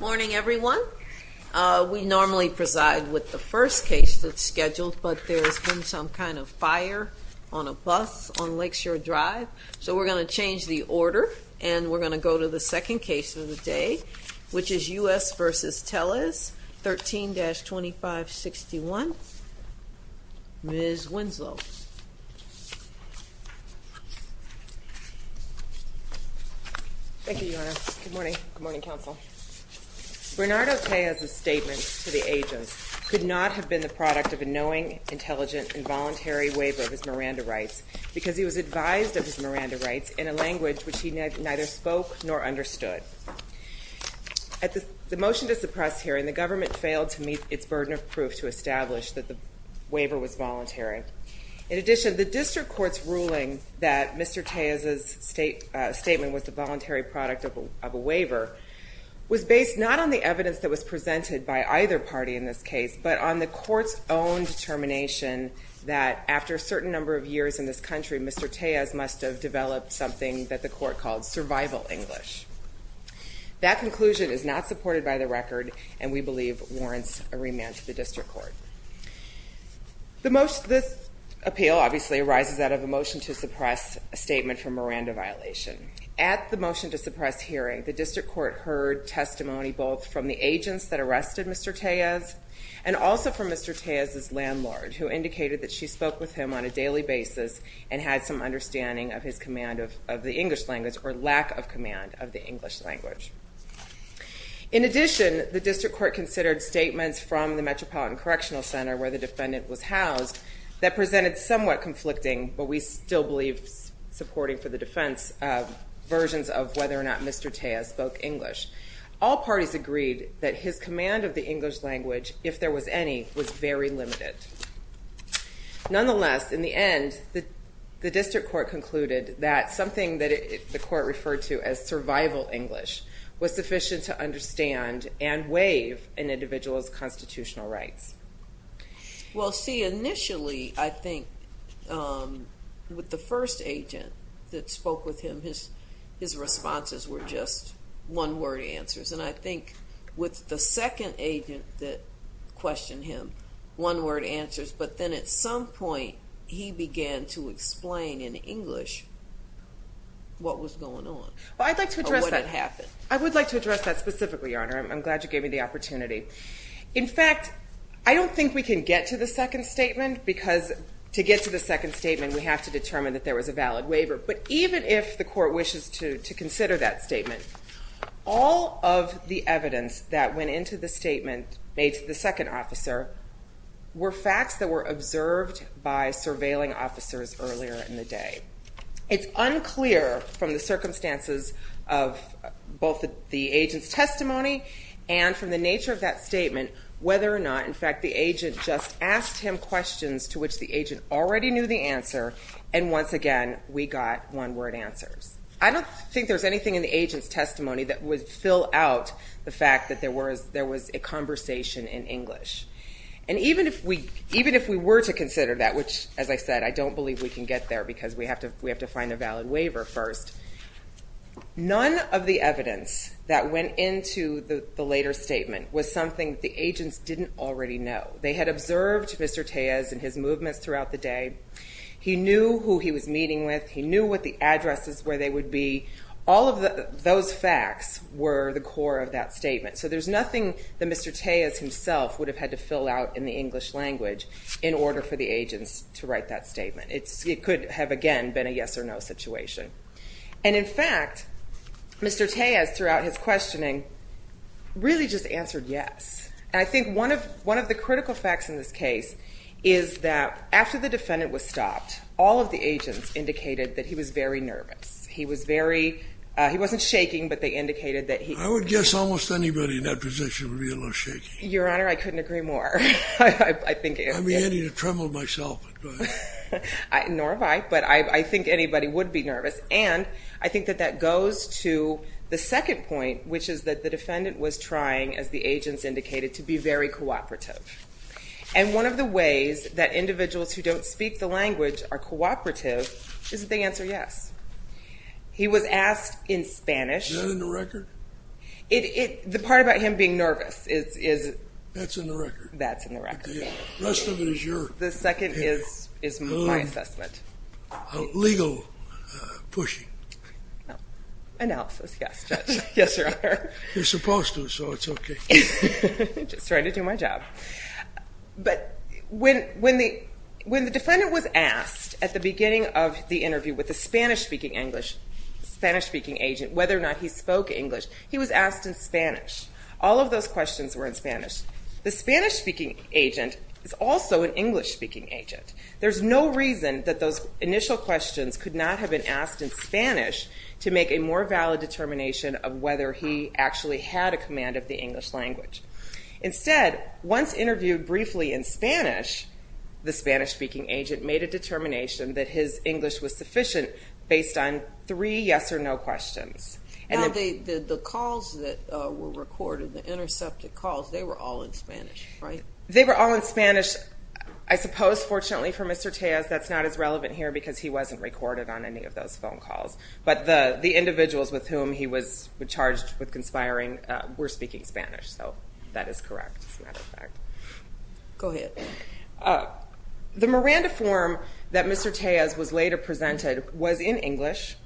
Morning everyone. We normally preside with the first case that's scheduled but there's been some kind of fire on a bus on Lakeshore Drive so we're going to change the order and we're going to go to the second case of the day which is U.S. v. Tellez, 13-2561. Ms. Winslow. Thank you, Your Honor. Good morning. Good morning, counsel. Bernardo Tellez's statement to the agents could not have been the product of a knowing, intelligent, and voluntary waiver of his Miranda rights because he was advised of his Miranda rights in a language which he neither spoke nor understood. At the motion to suppress hearing, the government failed to meet its burden of proof to establish that the waiver was voluntary. In addition, the district court's ruling that Mr. Tellez's statement was the voluntary product of a waiver was based not on the evidence that was presented by either party in this case but on the court's own determination that after a certain number of years in this country, Mr. Tellez must have developed something that the court called survival English. That conclusion is not supported by the record and we believe warrants a remand to the district court. This appeal obviously arises out of a motion to suppress a statement for Miranda violation. At the motion to suppress hearing, the district court heard testimony both from the agents that arrested Mr. Tellez and also from Mr. Tellez's landlord who indicated that she spoke with him on a daily basis and had some understanding of his command of the English language or lack of command of the English language. In addition, the district court considered statements from the Metropolitan Correctional Center where the defendant was housed that presented somewhat conflicting, but we still believe supporting for the defense, versions of whether or not Mr. Tellez spoke English. All parties agreed that his command of the English language, if there was any, was very limited. Nonetheless, in the end, the district court concluded that something that the court referred to as survival English was sufficient to understand and waive an individual's constitutional rights. Well see, initially, I think with the first agent that spoke with him, his responses were just one-word answers and I think with the second agent that questioned him, one-word answers, but then at some point he began to explain in English what was going on. I'd like to address that specifically, Your Honor. I'm glad you gave me the opportunity. In fact, I don't think we can get to the second statement because to get to the second statement we have to determine that there was a of the evidence that went into the statement made to the second officer were facts that were observed by surveilling officers earlier in the day. It's unclear from the circumstances of both the agent's testimony and from the nature of that statement whether or not, in fact, the agent just asked him questions to which the agent already knew the answer and once again we got one-word answers. I don't think there's anything in the agent's testimony that would fill out the fact that there was a conversation in English and even if we were to consider that, which as I said, I don't believe we can get there because we have to find a valid waiver first, none of the evidence that went into the later statement was something the agents didn't already know. They had observed Mr. Tejas and his movements throughout the day. He knew who he was meeting with. He knew what the addresses where they would be. All of those facts were the core of that statement so there's nothing that Mr. Tejas himself would have had to fill out in the English language in order for the agents to write that statement. It could have again been a yes or no situation and in fact Mr. Tejas throughout his questioning really just answered yes. I think one of the critical facts in this case is that after the defendant was stopped all of the agents indicated that he was very nervous. He was very, he wasn't shaking, but they indicated that he... I would guess almost anybody in that position would be a little shaky. Your Honor, I couldn't agree more. I think... I'm beginning to tremble myself. Nor have I, but I think anybody would be nervous and I think that that goes to the second point which is that the defendant was trying, as the agents indicated, to be very cooperative and one of the ways that individuals who don't speak the language are cooperative is that they answer yes. He was asked in Spanish. Is that in the record? The part about him being nervous is... That's in the record. That's in the record. The rest of it is your... The second is my assessment. Legal pushing. Analysis, yes, Judge. Yes, Your Honor. You're supposed to so it's okay. I'm just trying to do my job. But when the defendant was asked at the beginning of the interview with the Spanish-speaking English, Spanish-speaking agent, whether or not he spoke English, he was asked in Spanish. All of those questions were in Spanish. The Spanish-speaking agent is also an English-speaking agent. There's no reason that those initial questions could not have been asked in Spanish to make a more valid determination of whether he actually had a command of the English language. Instead, once interviewed briefly in Spanish, the Spanish-speaking agent made a determination that his English was sufficient based on three yes or no questions. And the calls that were recorded, the intercepted calls, they were all in Spanish, right? They were all in Spanish. I suppose, fortunately for Mr. Tejas, that's not as relevant here because he wasn't recorded on any of the cases that were charged with conspiring. We're speaking Spanish, so that is correct, as a matter of fact. Go ahead. The Miranda form that Mr. Tejas was later presented was in English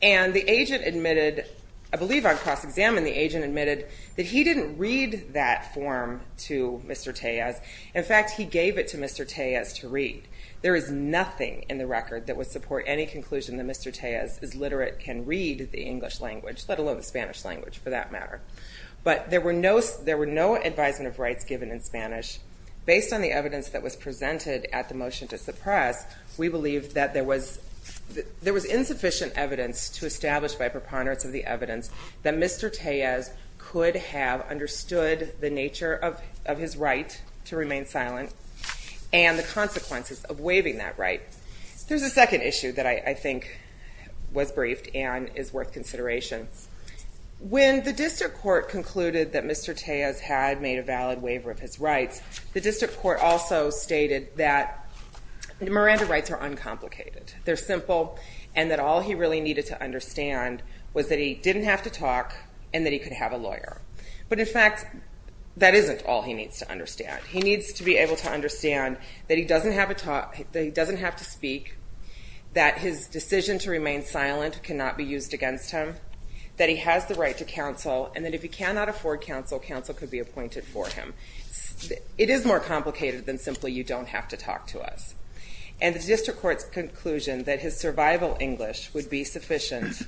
and the agent admitted, I believe on cross-examination, the agent admitted that he didn't read that form to Mr. Tejas. In fact, he gave it to Mr. Tejas to read. There is nothing in the record that would support any conclusion that Mr. Tejas is literate, can read the English language, let alone the Spanish language, for that matter. But there were no advisement of rights given in Spanish. Based on the evidence that was presented at the motion to suppress, we believe that there was insufficient evidence to establish by preponderance of the evidence that Mr. Tejas could have understood the nature of his right to remain silent and the consequences of waiving that right. There's a second issue that I think was briefed and is worth consideration. When the District Court concluded that Mr. Tejas had made a valid waiver of his rights, the District Court also stated that Miranda rights are uncomplicated. They're simple and that all he really needed to understand was that he didn't have to talk and that he could have a lawyer. But in fact, that isn't all he needs to understand. He needs to be able to understand that he doesn't have a talk, that he doesn't have to speak, that his decision to remain silent cannot be used against him, that he has the right to counsel, and that if he cannot afford counsel, counsel could be appointed for him. It is more complicated than simply you don't have to talk to us. And the District Court's conclusion that his survival English would be sufficient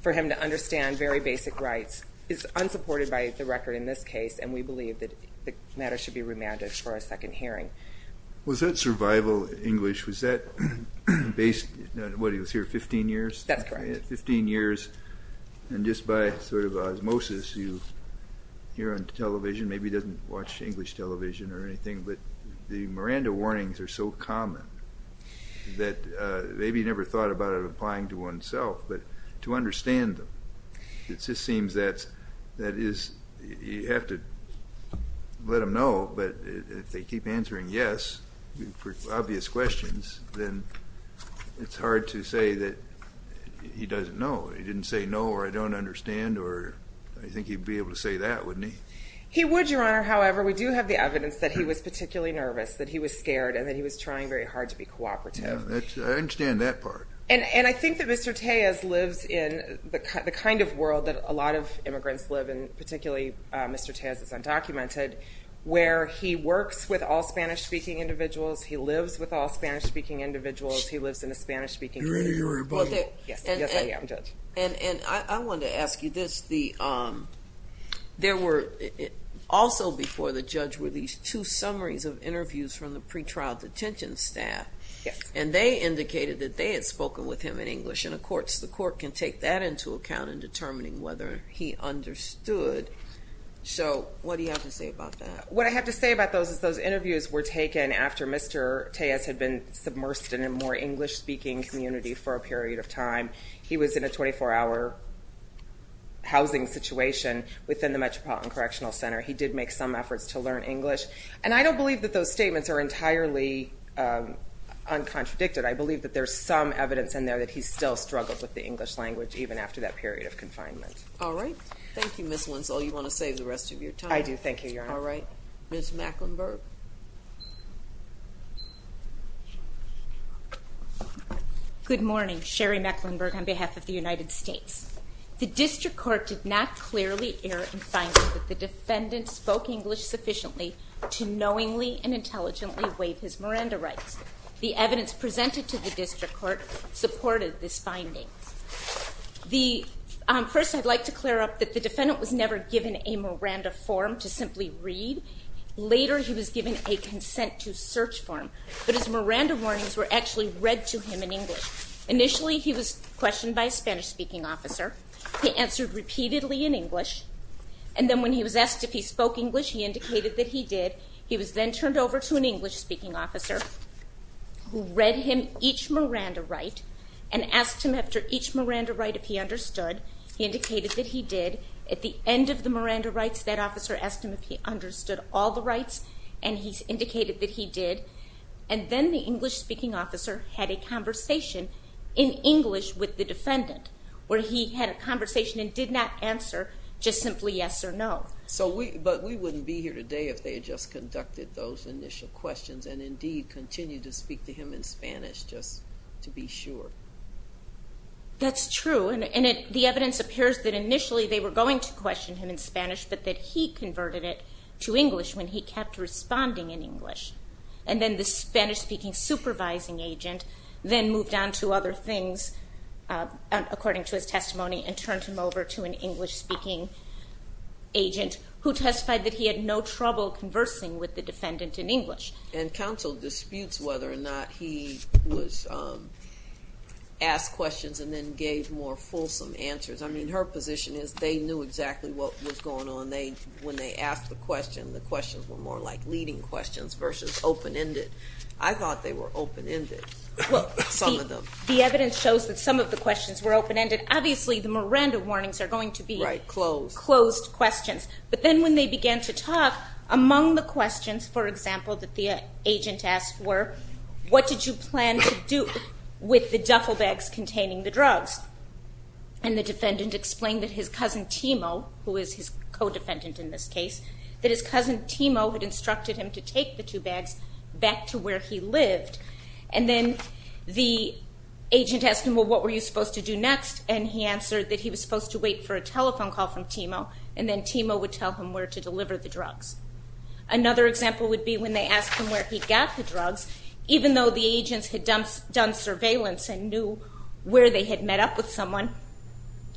for him to understand very basic rights is unsupported by the record in this case, and we believe that the matter should be English. Was that based, what, he was here 15 years? That's correct. 15 years and just by sort of osmosis, you hear on television, maybe he doesn't watch English television or anything, but the Miranda warnings are so common that maybe he never thought about it applying to oneself, but to understand them. It just seems that that is, you have to let them know, but if they keep answering yes, for obvious questions, then it's hard to say that he doesn't know. He didn't say no or I don't understand, or I think he'd be able to say that, wouldn't he? He would, Your Honor, however, we do have the evidence that he was particularly nervous, that he was scared, and that he was trying very hard to be cooperative. I understand that part. And I think that Mr. Tejas lives in the kind of world that a lot of immigrants live in, particularly Mr. Tejas is undocumented, where he works with all Spanish-speaking individuals, he lives with all Spanish- speaking individuals, he lives in a Spanish-speaking community. And I wanted to ask you this, there were also before the judge were these two summaries of interviews from the pretrial detention staff, and they indicated that they had spoken with him in English, and of course the court can take that into account in determining whether he understood. So what do you have to say about that? What I have to say about those is those interviews were taken after Mr. Tejas had been submersed in a more English-speaking community for a period of time. He was in a 24-hour housing situation within the Metropolitan Correctional Center. He did make some efforts to learn English, and I don't believe that those statements are entirely uncontradicted. I believe that there's some evidence in there that he still struggled with the English language even after that period of confinement. All right. Thank you, Ms. Winslow. You want to save the rest of your time? I do. Thank you, Your Honor. All right. Ms. Mecklenburg. Good morning. Sherry Mecklenburg on behalf of the United States. The District Court did not clearly err in finding that the defendant spoke English sufficiently to knowingly and intelligently waive his Miranda rights. The evidence presented to the District Court supported this finding. First, I'd like to clear up that the defendant was never given a Miranda form to simply read. Later, he was given a consent-to-search form, but his Miranda warnings were actually read to him in English. Initially, he was questioned by a Spanish-speaking officer. He answered repeatedly in English, and then when he was asked if he spoke English, he indicated that he did. He was then turned over to an English-speaking officer who asked him for each Miranda right and asked him after each Miranda right if he understood. He indicated that he did. At the end of the Miranda rights, that officer asked him if he understood all the rights, and he's indicated that he did. And then the English-speaking officer had a conversation in English with the defendant, where he had a conversation and did not answer just simply yes or no. But we wouldn't be here today if they had just conducted those initial questions and indeed continued to speak to him in English to be sure. That's true, and the evidence appears that initially they were going to question him in Spanish, but that he converted it to English when he kept responding in English. And then the Spanish-speaking supervising agent then moved on to other things, according to his testimony, and turned him over to an English-speaking agent who testified that he had no trouble conversing with the defendant in English. And counsel disputes whether or not he was asked questions and then gave more fulsome answers. I mean, her position is they knew exactly what was going on. When they asked the question, the questions were more like leading questions versus open-ended. I thought they were open-ended. Well, the evidence shows that some of the questions were open-ended. Obviously, the Miranda warnings are going to be closed questions. But then when they began to talk, among the questions, for example, that the agent asked were, what did you plan to do with the duffel bags containing the drugs? And the defendant explained that his cousin Timo, who is his co-defendant in this case, that his cousin Timo had instructed him to take the two bags back to where he lived. And then the agent asked him, well, what were you supposed to do next? And he answered that he was supposed to wait for a telephone call from Timo, and then to deliver the drugs. Another example would be when they asked him where he got the drugs, even though the agents had done surveillance and knew where they had met up with someone,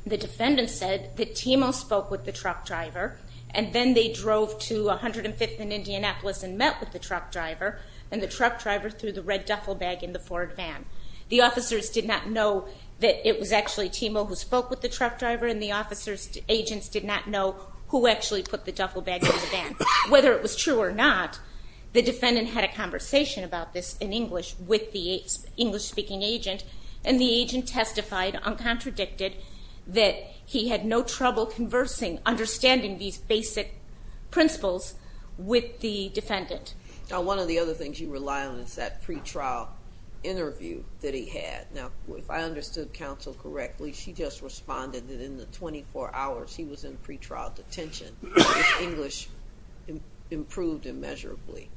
the defendant said that Timo spoke with the truck driver, and then they drove to 105th and Indianapolis and met with the truck driver, and the truck driver threw the red duffel bag in the Ford van. The officers did not know that it was actually Timo who spoke with the truck driver, and the officers agents did not know who actually put the duffel bag in the van. Whether it was true or not, the defendant had a conversation about this in English with the English-speaking agent, and the agent testified uncontradicted that he had no trouble conversing, understanding these basic principles with the defendant. Now one of the other things you rely on is that pre-trial interview that he had. Now if I understood counsel correctly, she just responded that in the 24 hours he was in pre-trial detention, his English improved immeasurably.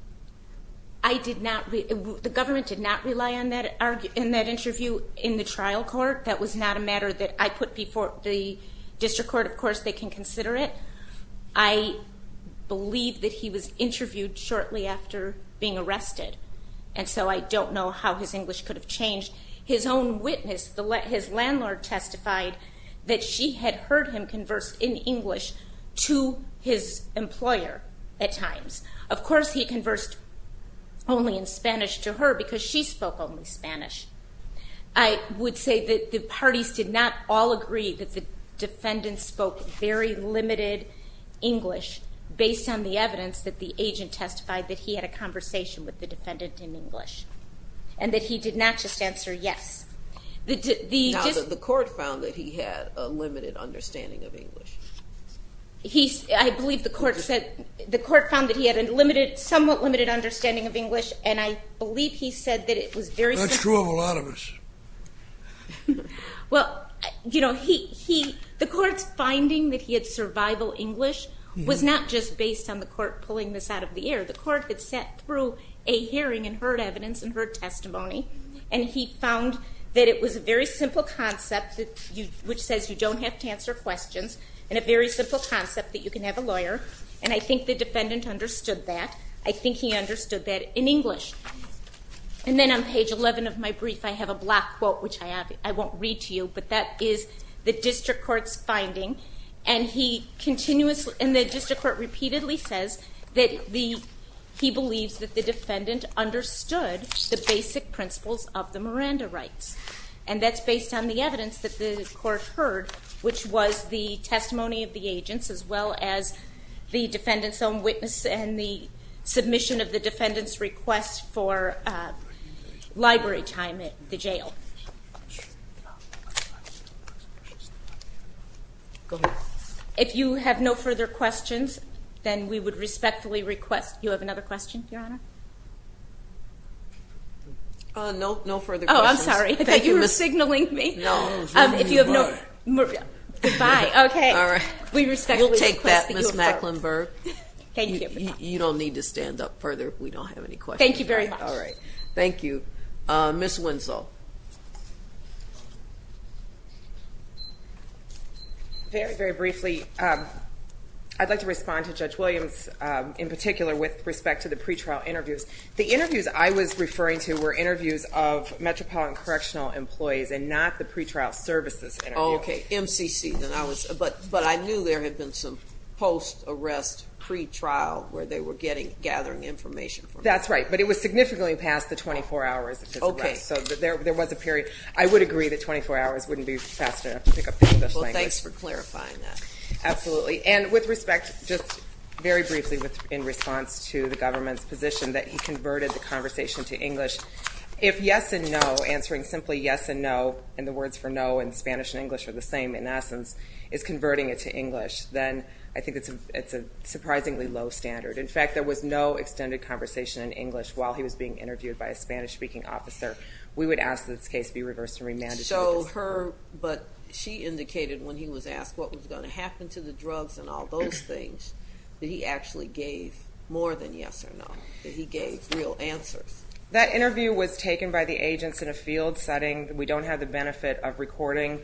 I did not, the government did not rely on that in that interview in the trial court. That was not a matter that I put before the district court. Of course they can consider it. I believe that he was interviewed shortly after being arrested, and so I don't know how his English could have changed. His own testified that she had heard him converse in English to his employer at times. Of course he conversed only in Spanish to her because she spoke only Spanish. I would say that the parties did not all agree that the defendant spoke very limited English based on the evidence that the agent testified that he had a conversation with the defendant in English, and that he did not just answer yes. Now the court found that he had a limited understanding of English. I believe the court said, the court found that he had a limited, somewhat limited understanding of English, and I believe he said that it was very... That's true of a lot of us. Well you know he, the court's finding that he had survival English was not just based on the court pulling this out of the air. The court had sat through a and found that it was a very simple concept that you, which says you don't have to answer questions, and a very simple concept that you can have a lawyer, and I think the defendant understood that. I think he understood that in English. And then on page 11 of my brief I have a black quote which I won't read to you, but that is the district court's finding, and he continuously, and the district court repeatedly says that the, he believes that the defendant understood the basic principles of the Miranda rights. And that's based on the evidence that the court heard, which was the testimony of the agents, as well as the defendant's own witness, and the submission of the defendant's request for library time at the jail. If you have no further questions, then we would No, no further questions. Oh I'm sorry, I thought you were signaling me. No. If you have no, goodbye, okay. We respectfully request that you affirm. We'll take that Ms. Macklenburg. Thank you. You don't need to stand up further if we don't have any questions. Thank you very much. All right, thank you. Ms. Winslow. Very, very briefly, I'd like to respond to Judge Williams in particular with respect to the pretrial interviews. The interviews I was referring to were interviews of Metropolitan Correctional employees, and not the pretrial services interview. Okay, MCC, then I was, but, but I knew there had been some post-arrest pretrial where they were getting, gathering information. That's right, but it was significantly past the 24 hours of his arrest. Okay. So there was a period, I would agree that 24 hours wouldn't be fast enough to pick up the English language. Well, thanks for clarifying that. Absolutely, and with respect, just very briefly in response to the government's position that he converted the conversation to English, if yes and no, answering simply yes and no, and the words for no in Spanish and English are the same in essence, is converting it to English, then I think it's a, it's a surprisingly low standard. In fact, there was no extended conversation in English while he was being interviewed by a Spanish-speaking officer. We would ask that this case be reversed and remanded. So her, but she indicated when he was asked what was going to happen to the drugs and all those things, that he actually gave more than yes or no, that he gave real answers. That interview was taken by the agents in a field setting. We don't have the benefit of recording.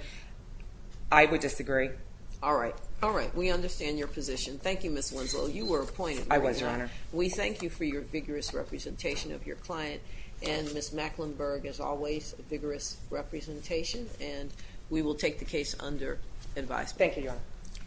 I would disagree. All right. All right. We understand your position. Thank you, Ms. Winslow. You were appointed. I was, Your Honor. We thank you for your vigorous representation of your client, and Ms. Macklinburg, as always, a vigorous representation, and we will take the case under advisement. Thank you, Your Honor.